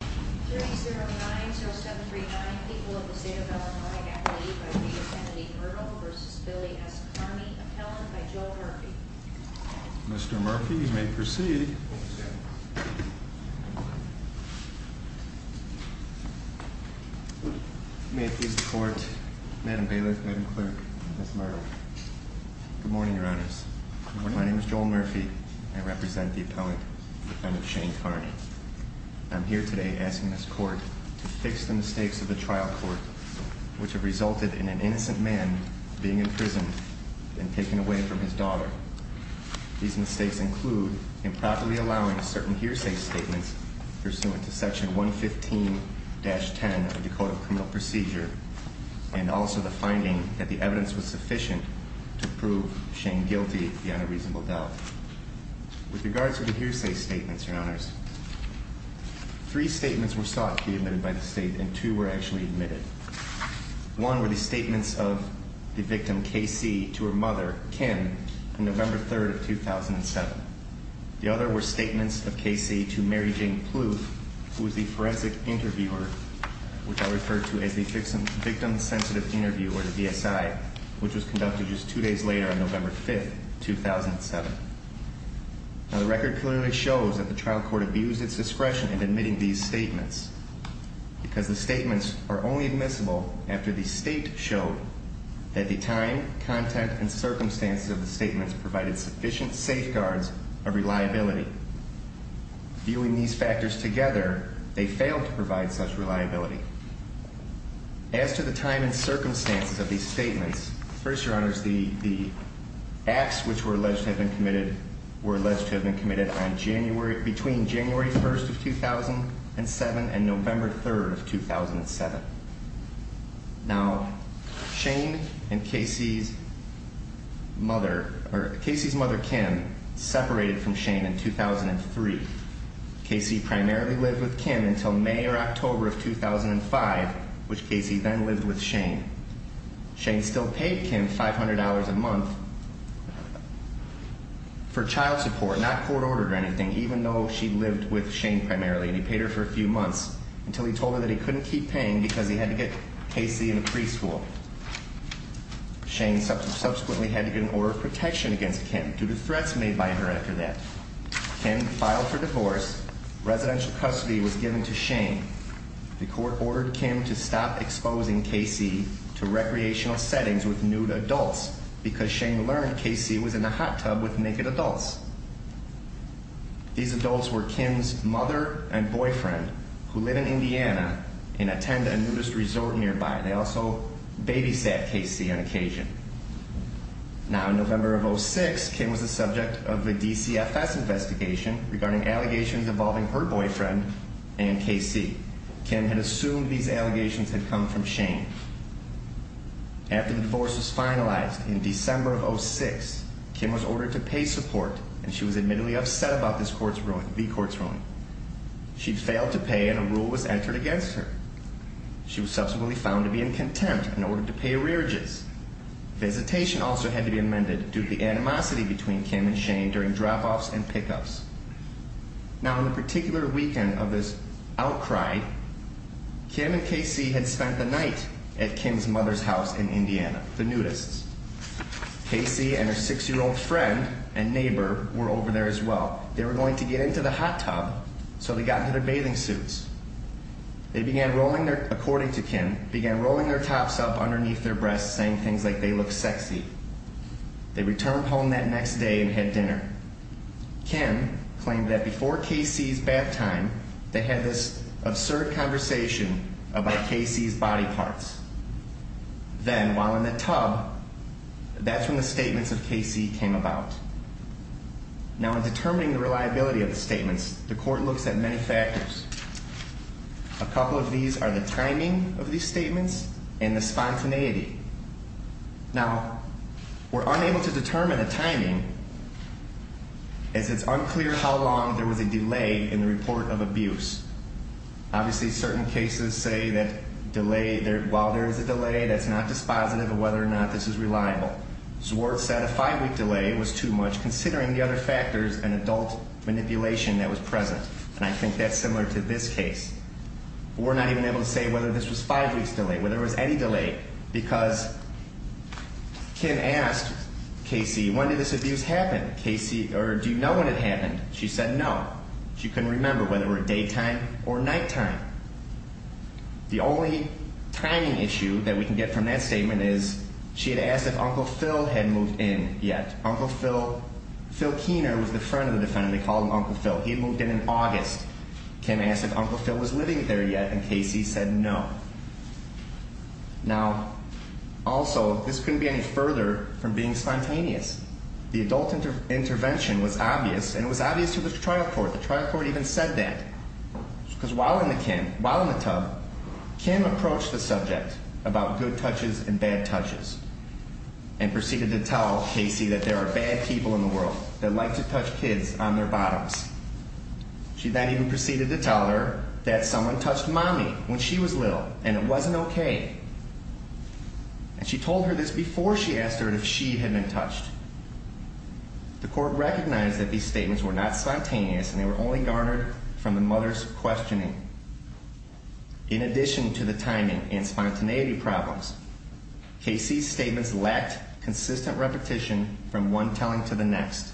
3090739, people of the state of Illinois, athlete by the name of Kennedy Murdoch v. Billy S. Carney, appellant by Joel Murphy. Mr. Murphy, you may proceed. May it please the Court, Madam Bailiff, Madam Clerk, Ms. Murdoch. Good morning, Your Honors. Good morning. My name is Joel Murphy. I represent the appellant, defendant Shane Carney. I'm here today asking this Court to fix the mistakes of the trial court which have resulted in an innocent man being imprisoned and taken away from his daughter. These mistakes include improperly allowing certain hearsay statements pursuant to Section 115-10 of the Code of Criminal Procedure and also the finding that the evidence was sufficient to prove Shane guilty beyond a reasonable doubt. With regards to the hearsay statements, Your Honors, three statements were sought to be admitted by the State and two were actually admitted. One were the statements of the victim, K.C., to her mother, Kim, on November 3rd of 2007. The other were statements of K.C. to Mary Jane Pluth, who was the forensic interviewer, which I refer to as the victim sensitive interviewer, the VSI, which was conducted just two days later on November 5th, 2007. Now the record clearly shows that the trial court abused its discretion in admitting these statements because the statements are only admissible after the State showed that the time, content, and circumstances of the statements provided sufficient safeguards of reliability. Viewing these factors together, they failed to provide such reliability. As to the time and circumstances of these statements, first, Your Honors, the acts which were alleged to have been committed were alleged to have been committed between January 1st of 2007 and November 3rd of 2007. Now, Shane and K.C.'s mother, or K.C.'s mother, Kim, separated from Shane in 2003. K.C. primarily lived with Kim until May or October of 2005, which K.C. then lived with and paid Kim $500 a month for child support, not court ordered or anything, even though she lived with Shane primarily, and he paid her for a few months, until he told her that he couldn't keep paying because he had to get K.C. in a preschool. Shane subsequently had to get an order of protection against Kim due to threats made by her after that. Kim filed for divorce. Residential custody was given to Shane. The court ordered Kim to stop exposing K.C. to recreational settings with nude adults because Shane learned K.C. was in a hot tub with naked adults. These adults were Kim's mother and boyfriend, who live in Indiana and attend a nudist resort nearby. They also babysat K.C. on occasion. Now, in November of 2006, Kim was the subject of a DCFS investigation regarding allegations involving her boyfriend and K.C. Kim had assumed these allegations. After the divorce was finalized in December of 2006, Kim was ordered to pay support and she was admittedly upset about this court's ruling, the court's ruling. She failed to pay and a rule was entered against her. She was subsequently found to be in contempt and ordered to pay arrearages. Visitation also had to be amended due to the animosity between Kim and Shane during drop-offs and pick-ups. Now, on the particular weekend of this outcry, Kim and K.C. had spent the night at Kim's mother's house in Indiana, the nudists. K.C. and her six-year-old friend and neighbor were over there as well. They were going to get into the hot tub, so they got into their bathing suits. They began rolling their, according to Kim, began rolling their tops up underneath their breasts saying things like they look sexy. They returned home that next day and had dinner. Kim claimed that before K.C.'s bath time they had this absurd conversation about K.C.'s body parts. Then, while in the tub, that's when the statements of K.C. came about. Now, in determining the reliability of the statements, the court looks at many factors. A couple of these are the timing of these statements and the spontaneity. Now, we're unable to determine the timing as it's unclear how long there was a delay in the report of abuse. Obviously, certain cases say that delay, while there is a delay, that's not dispositive of whether or not this is reliable. Swartz said a five-week delay was too much considering the other factors and adult manipulation that was present. And I think that's similar to this case. We're not even able to say whether this was five weeks delay, whether there was any delay because Kim asked K.C., when did this abuse happen? K.C., or do you know when it happened? She said no. She couldn't remember whether it was daytime or nighttime. The only timing issue that we can get from that statement is she had asked if Uncle Phil had moved in yet. Uncle Phil, Phil Keener was the friend of the defendant. They called him Uncle Phil. He had moved in in August. Kim asked if Uncle Phil was living there yet and K.C. said no. Now, also, this couldn't be any further from being spontaneous. The adult intervention was obvious and it was obvious to the trial court. The trial court even said that because while in the tub, Kim approached the subject about good touches and bad touches and proceeded to tell K.C. that there are bad people in the world that like to touch kids on their bottoms. She then even proceeded to tell her that someone touched Mommy when she was little and it wasn't okay. And she told her this before she asked her if she had been touched. The court recognized that these statements were not spontaneous and they were only garnered from the mother's questioning. In addition to the timing and spontaneity problems, K.C.'s statements lacked consistent repetition from one telling to the next.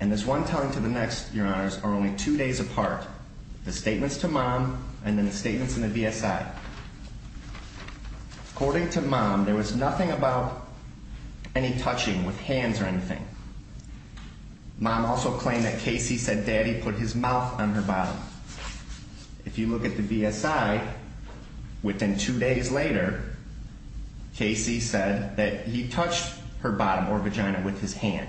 And this one telling to the next, Your Honors, are only two days apart. The statements to Mom and then the statements in the V.S.I. According to Mom, there was nothing about any touching with hands or anything. Mom also claimed that K.C. said Daddy put his mouth on her bottom. If you look at the V.S.I., within two days later, K.C. said that he touched her bottom or vagina with his hand.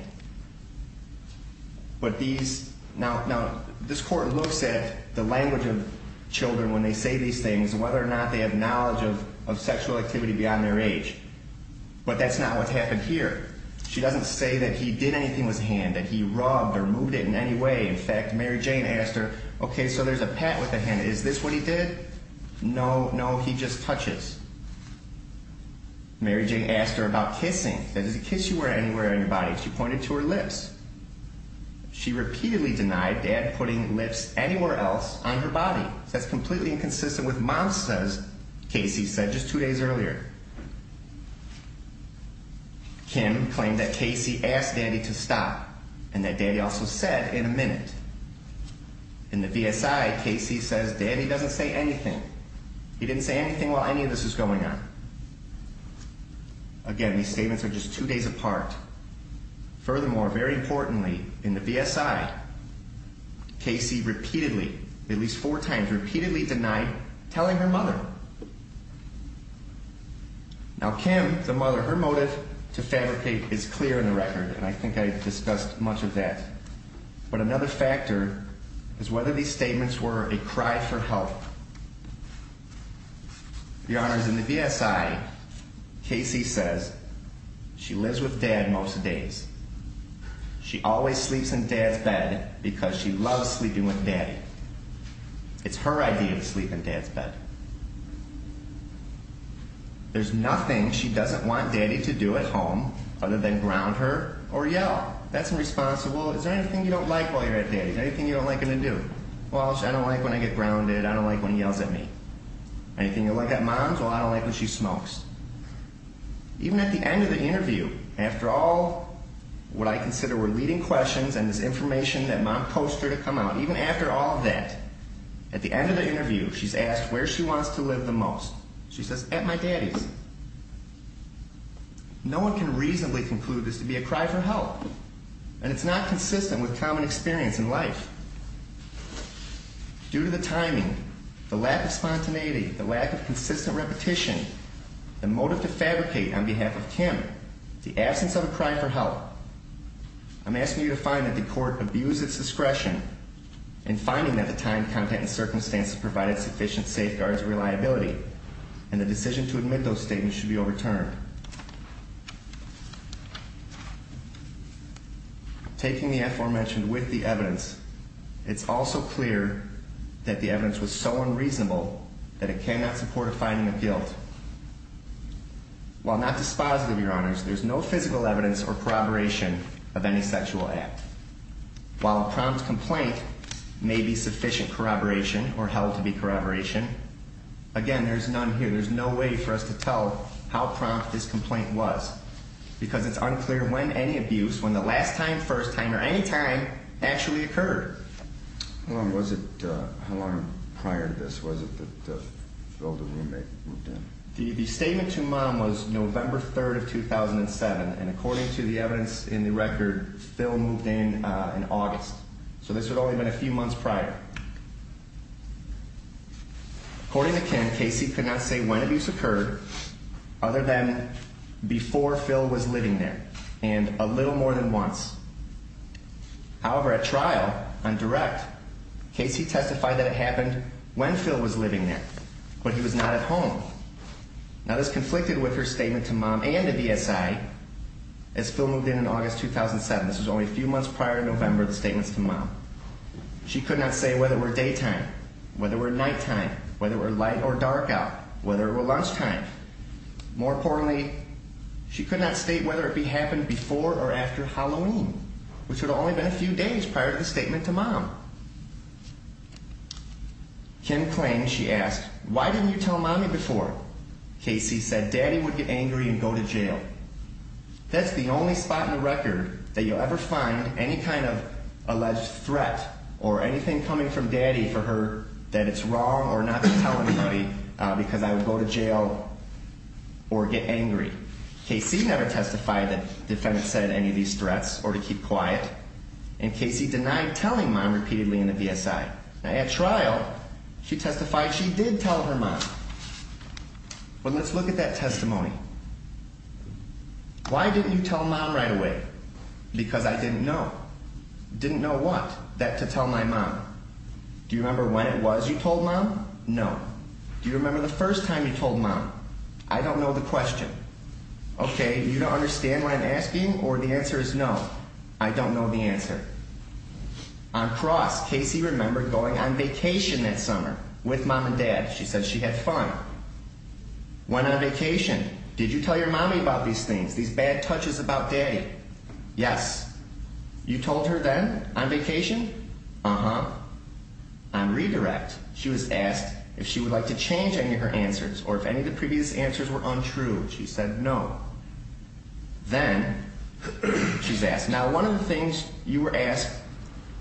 Now, this court looks at the language of sexual activity beyond their age. But that's not what happened here. She doesn't say that he did anything with his hand, that he rubbed or moved it in any way. In fact, Mary Jane asked her, okay, so there's a pat with the hand. Is this what he did? No, no, he just touches. Mary Jane asked her about kissing. Did he kiss you anywhere on your body? She pointed to her lips. She repeatedly denied Dad putting lips anywhere else on her body. That's completely inconsistent with Mom says K.C. said just two days earlier. Kim claimed that K.C. asked Daddy to stop and that Daddy also said in a minute. In the V.S.I., K.C. says Daddy doesn't say anything. He didn't say anything while any of this was going on. Again, these statements are just two days apart. Furthermore, very importantly, in the V.S.I., K.C. repeatedly, at least four times, repeatedly denied telling her mother. Now, Kim, the mother, her motive to fabricate is clear in the record, and I think I discussed much of that. But another factor is whether these statements were a cry for help. Your Honors, in the V.S.I., K.C. says she lives with Dad most days. She always sleeps in Dad's bed because she loves sleeping with Daddy. It's her idea to sleep in Dad's bed. There's nothing she doesn't want Daddy to do at home other than ground her or yell. That's irresponsible. Is there anything you don't like while you're at Daddy? Anything you don't like him to do? Well, I don't like when I get grounded. I don't like when he yells at me. Anything you like at Mom's? Well, I don't like when she smokes. Even at the end of the interview, after all what I mentioned, that Mom posts her to come out, even after all of that, at the end of the interview, she's asked where she wants to live the most. She says, at my Daddy's. No one can reasonably conclude this to be a cry for help, and it's not consistent with common experience in life. Due to the timing, the lack of spontaneity, the lack of consistent repetition, the motive to fabricate on behalf of Kim, the absence of a cry for help, I'm asking you to find that the court abused its discretion in finding that the time, content, and circumstances provided sufficient safeguards or reliability, and the decision to admit those statements should be overturned. Taking the aforementioned with the evidence, it's also clear that the evidence was so unreasonable that it cannot support a finding of guilt. While not dispositive, Your Honors, there's no physical evidence or corroboration of any sexual act. While a prompt complaint may be sufficient corroboration or held to be corroboration, again, there's none here. There's no way for us to tell how prompt this complaint was, because it's unclear when any abuse, when the last time, first time, or any time, actually occurred. How long was it, how long prior to this was it that Phil, the roommate, moved in? The statement to Mom was November 3rd of 2007, and according to the evidence in the record, Phil moved in in August. So this would only have been a few months prior. According to Kim, Casey could not say when abuse occurred other than before Phil was living there, and a little more than once. However, at trial, on direct, Casey testified that it happened when Phil was living there, but he was not at home. Now this conflicted with her statement to Mom and the VSI. As Phil moved in in August 2007, this was only a few months prior to November, the statements to Mom. She could not say whether it were daytime, whether it were nighttime, whether it were light or dark out, whether it were lunchtime. More importantly, she could not state whether it happened before or after Halloween, which would have only been a few days prior to the statement to Mom. Kim claimed, she asked, why didn't you tell Mommy before? Casey said, Daddy would get angry and go to jail. That's the only spot in the record that you'll ever find any kind of alleged threat or anything coming from Daddy for her that it's wrong or not to tell anybody because I would go to jail or get angry. Casey never testified that the defendant said any of these threats or to keep quiet, and Casey denied telling Mom repeatedly in the VSI. Now at trial, she testified she did tell her Mom. Well, let's look at that testimony. Why didn't you tell Mom right away? Because I didn't know. Didn't know what? That to tell my Mom. Do you remember when it was you told Mom? No. Do you remember the first time you told Mom? I don't know the question. Okay, you don't understand what I'm On cross, Casey remembered going on vacation that summer with Mom and Dad. She said she had fun. Went on vacation. Did you tell your Mommy about these things, these bad touches about Daddy? Yes. You told her then on vacation? Uh-huh. On redirect, she was asked if she would like to change any of her answers or if any of the previous answers were untrue. She said no. Then she's asked, now one of the things you were asked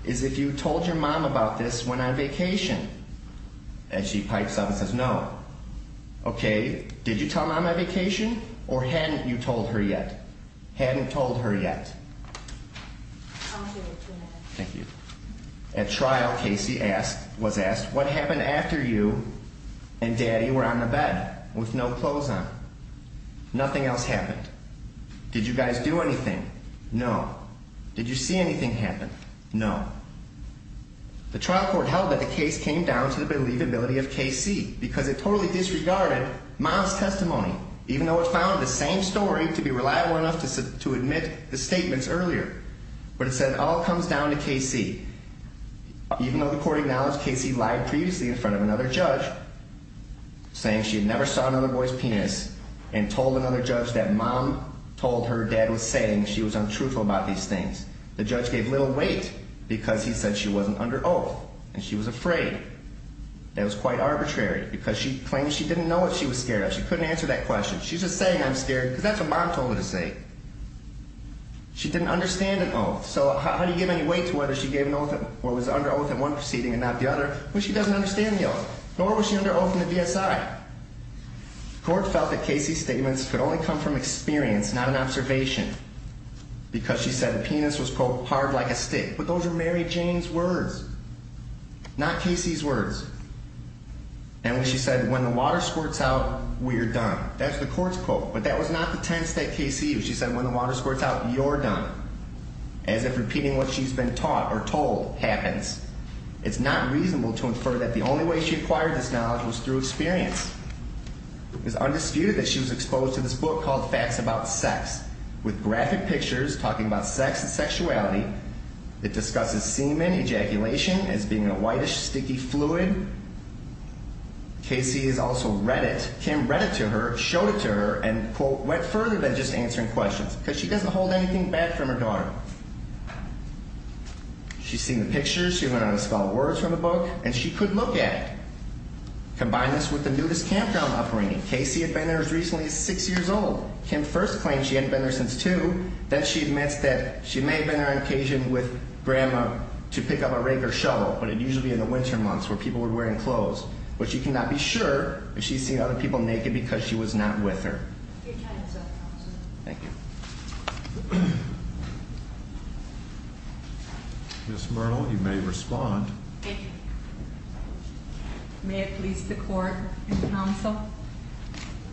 is if you told your Mom about this when on vacation. And she pipes up and says no. Okay, did you tell Mom on vacation or hadn't you told her yet? Hadn't told her yet. I'll give you two minutes. Thank you. At trial, Casey was asked what happened after you and Daddy were on the bed with no clothes on? Nothing else happened. Did you guys do anything? No. Did you see anything happen? No. The trial court held that the case came down to the believability of Casey because it totally disregarded Mom's testimony, even though it found the same story to be reliable enough to admit the statements earlier. But it said it all comes down to Casey. Even though the court acknowledged Casey lied previously in front of another judge, saying she had never saw another boy's penis and told another judge that Mom told her Dad was saying she was untruthful about these things, the judge gave little weight because he said she wasn't under oath and she was afraid. That was quite arbitrary because she claimed she didn't know what she was scared of. She couldn't answer that question. She's just saying I'm scared because that's what Mom told her to say. She didn't understand an oath. So how do you give any weight to whether she gave an oath or was under oath in one proceeding and not the other? Well, she doesn't understand the oath, nor was she under oath in the DSI. The court felt that Casey's statements could only come from experience, not an observation, because she said the penis was, quote, hard like a stick. But those are Mary Jane's words, not Casey's words. And when she said, when the water squirts out, we're done. That's the court's quote. But that was not the tense that Casey used. She said when the water squirts out, you're done. As if repeating what she's been taught or told happens. It's not reasonable to infer that the only way she acquired this knowledge was through experience. It's undisputed that she was exposed to this book called Facts About Sex, with graphic pictures talking about sex and sexuality. It discusses semen ejaculation as being a whitish, sticky fluid. Casey has also read it. Kim read it to her, showed it to her, and, quote, went further than just answering questions, because she doesn't hold anything back from her daughter. She's seen the pictures. She went on to spell words from the book, and she could look at it. Combine this with the nudist campground upbringing. Casey had been there as recently as six years old. Kim first claimed she hadn't been there since two. Then she admits that she may have been there on occasion with grandma to pick up a rake or shovel, but it'd usually be in the winter months where people were wearing clothes. But she cannot be sure if she's seen other people naked because she was not with her. Thank you. Ms. Murnell, you may respond. Thank you. May it please the Court and Counsel,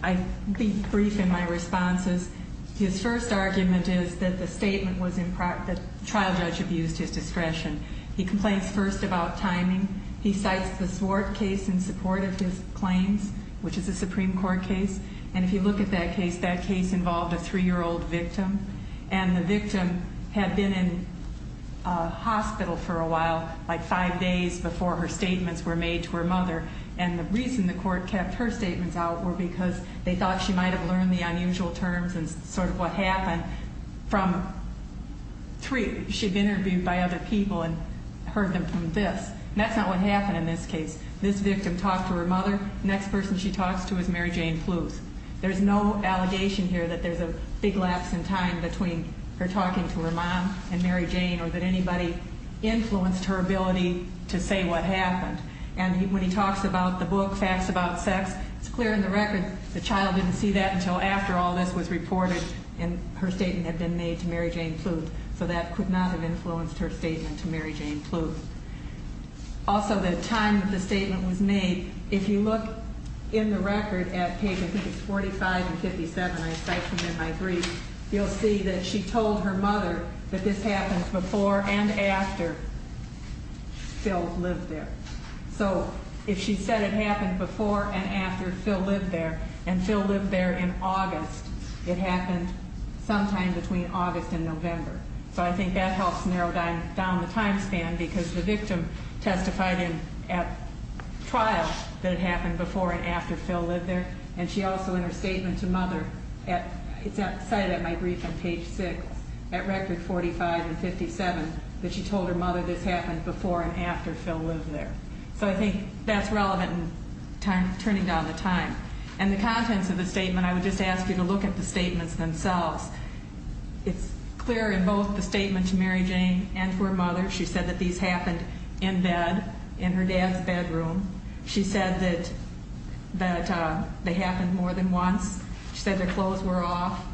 I'll be brief in my responses. His first argument is that the trial judge abused his discretion. He complains first about timing. He cites the Swart case in support of his claims, which is a Supreme Court case. And if you look at that case, that three-year-old victim, and the victim had been in hospital for a while, like five days before her statements were made to her mother. And the reason the Court kept her statements out were because they thought she might have learned the unusual terms and sort of what happened from three. She'd been interviewed by other people and heard them from this. And that's not what happened in this case. This victim talked to her mother. The next person she talks to is Mary Jane Fluth. There's no allegation here that there's a big lapse in time between her talking to her mom and Mary Jane or that anybody influenced her ability to say what happened. And when he talks about the book, Facts About Sex, it's clear in the record the child didn't see that until after all this was reported and her statement had been made to Mary Jane Fluth. So that could not have influenced her statement to Mary Jane Fluth. Also, the time that the statement was made, if you look in the record at pages 45 and 57, I cite them in my brief, you'll see that she told her mother that this happened before and after Phil lived there. So if she said it happened before and after Phil lived there and Phil lived there in August, it happened sometime between August and November. So I think that helps narrow down the time span because the victim testified in at trial that it happened before and after Phil lived there and she also in her statement to mother, it's cited in my brief on page 6, at record 45 and 57, that she told her mother this happened before and after Phil lived there. So I think that's relevant in turning down the time. And the contents of the statement I would just ask you to look at the statements themselves. It's clear in both the statement to Mary Jane and to her mother, she said that these happened in bed, in her dad's bedroom. She said that they happened more than once. She said their clothes were off.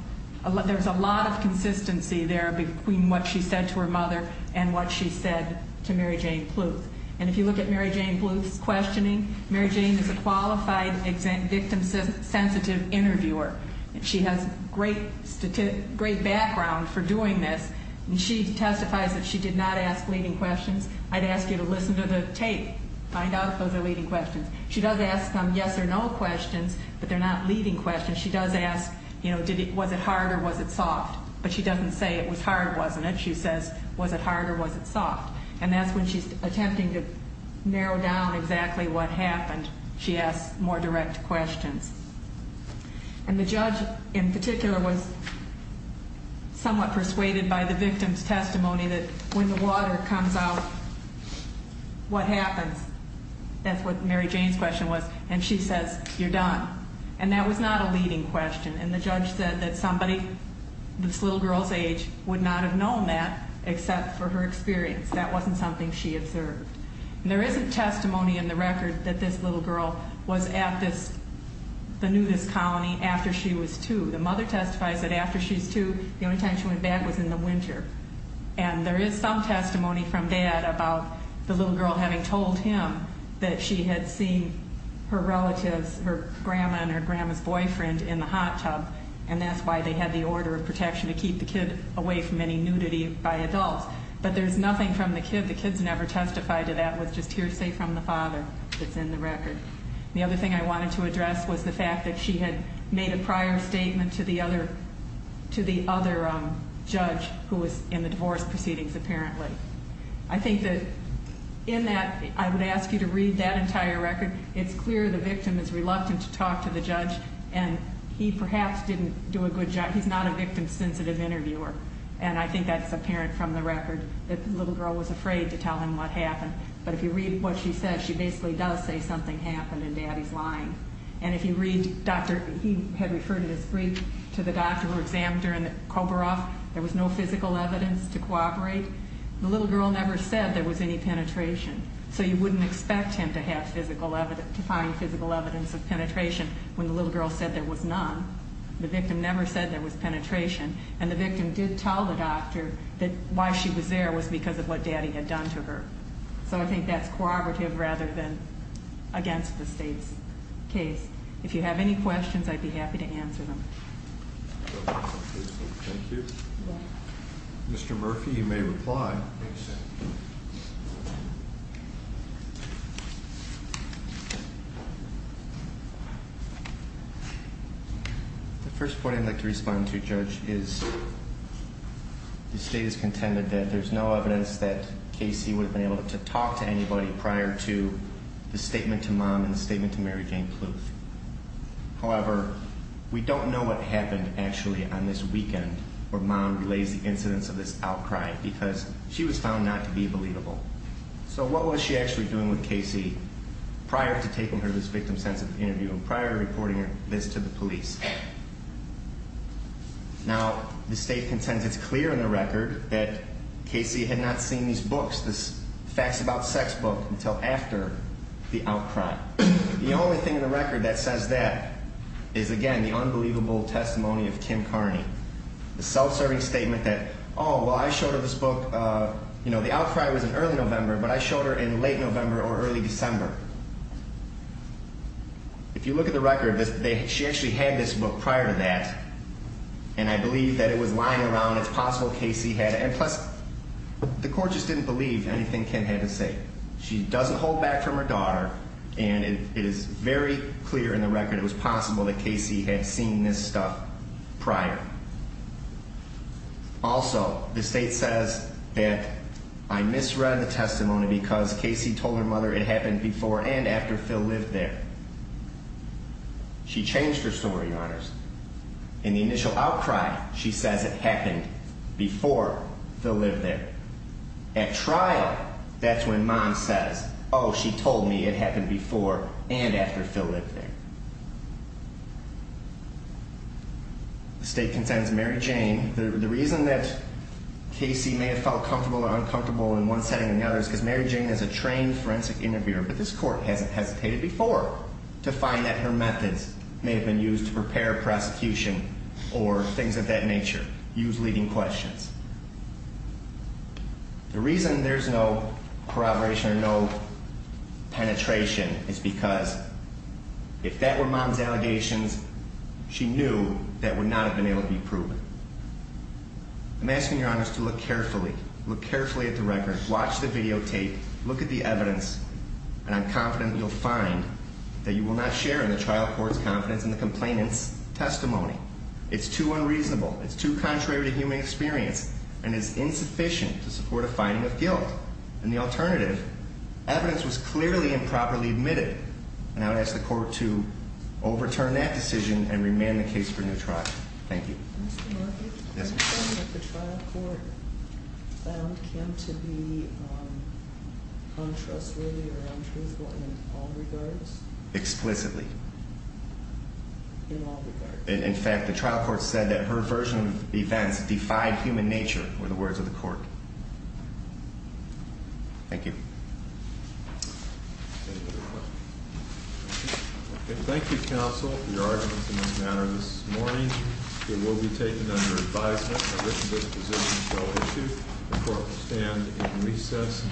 There's a lot of consistency there between what she said to her mother and what she said to Mary Jane Pluth. And if you look at Mary Jane Pluth's questioning, Mary Jane is a qualified victim-sensitive interviewer. She has great background for doing this and she testifies that she did not ask leading questions. I'd ask you to listen to the tape. Find out if those are leading questions. She does ask some yes or no questions, but they're not leading questions. She does ask, you know, was it hard or was it soft? But she doesn't say it was hard, wasn't it? She says, was it hard or was it soft? And that's when she's attempting to narrow down exactly what happened, she asks more direct questions. And the judge in particular was somewhat persuaded by the victim's testimony that when the water comes out, what happens? That's what Mary Jane's question was. And she says, you're done. And that was not a leading question. And the judge said that somebody this little girl's age would not have known that except for her experience. That wasn't something she observed. And there isn't testimony in the record that this little girl was at this the nudist colony after she was two. The mother testifies that after she was two, the only time she went back was in the winter. And there is some testimony from dad about the little girl having told him that she had seen her relatives, her grandma and her grandma's boyfriend in the hot tub. And that's why they had the order of protection to keep the kid away from any nudity by adults. But there's nothing from the kid. The kid's never testified to that. It was just hearsay from the father that's in the record. The other thing I wanted to address was the fact that she had made a prior statement to the other judge who was in the divorce proceedings, apparently. I think that in that, I would ask you to read that entire record. It's clear the victim is reluctant to talk to the judge. And he perhaps didn't do a good job. He's not a victim-sensitive interviewer. And I think that's apparent from the record that the little girl was afraid to tell him what happened. But if you read what she says, she basically does say something happened and daddy's lying. And if you read the state's case, he had referred in his brief to the doctor who examined her and the koberoff. There was no physical evidence to cooperate. The little girl never said there was any penetration. So you wouldn't expect him to have physical evidence, to find physical evidence of penetration when the little girl said there was none. The victim never said there was penetration. And the victim did tell the doctor that why she was there was because of what daddy had done to her. So I think that's corroborative rather than against the state's case. If you have any questions, I'd be happy to answer them. Mr. Murphy, you may reply. The first point I'd like to respond to, Judge, is the state has contended that there's no evidence that the victim's mother was the one who reported the statement to mom and the statement to Mary Jane Cluth. However, we don't know what happened, actually, on this weekend where mom relays the incidents of this outcry because she was found not to be believable. So what was she actually doing with Casey prior to taking her to this victim's sense of interview and prior to reporting this to the police? Now, the state contends it's clear in the record that Casey had not seen these books, this facts about sex book, until after the outcry. The only thing in the record that says that is, again, the unbelievable testimony of Kim Carney, the self-serving statement that, oh, well, I showed her this book, you know, the outcry was in early November, but I showed her in late November or early December. If you look at the record, she actually had this book prior to that, and I believe that it was lying around. It's possible Casey had it. And plus, the court just didn't believe anything Kim had to say. She doesn't hold back from her daughter, and it is very clear in the record it was possible that Casey had seen this stuff prior. Also, the state says that I misread the testimony because Casey told her mother it happened before and after Phil lived there. She changed her story, Your Honors. In the initial outcry, she says it happened before Phil lived there. At trial, that's when mom says, oh, she told me it happened before and after Phil lived there. The state contends Mary Jane, the reason that Casey may have felt comfortable or uncomfortable in one setting or another is because Mary Jane is a trained forensic interviewer, but this court hasn't hesitated before to find that her methods may have been used to prepare a prosecution or things of that nature, use leading questions. The reason there's no corroboration or no penetration is because if that were mom's allegations, she knew that would not have been able to be proven. I'm asking Your Honors to look carefully, look carefully at the record, watch the videotape, look at the evidence, and I'm confident you'll find that you will not share in the trial court's confidence in the complainant's testimony. It's too unreasonable. It's too contrary to human experience and is insufficient to support a finding of guilt. And the alternative, evidence was clearly improperly admitted. And I would ask the court to overturn that decision and remand the case for new trial. Thank you. The trial court found Kim to be untrustworthy or untruthful in all regards? Explicitly. In all regards. In fact, the trial court said that her version of the events defied human nature were the words of the court. Thank you. Any other questions? Thank you, counsel, for your arguments in this matter this morning. It will be taken under advisement that this disposition shall be issued. The court will stand in recess.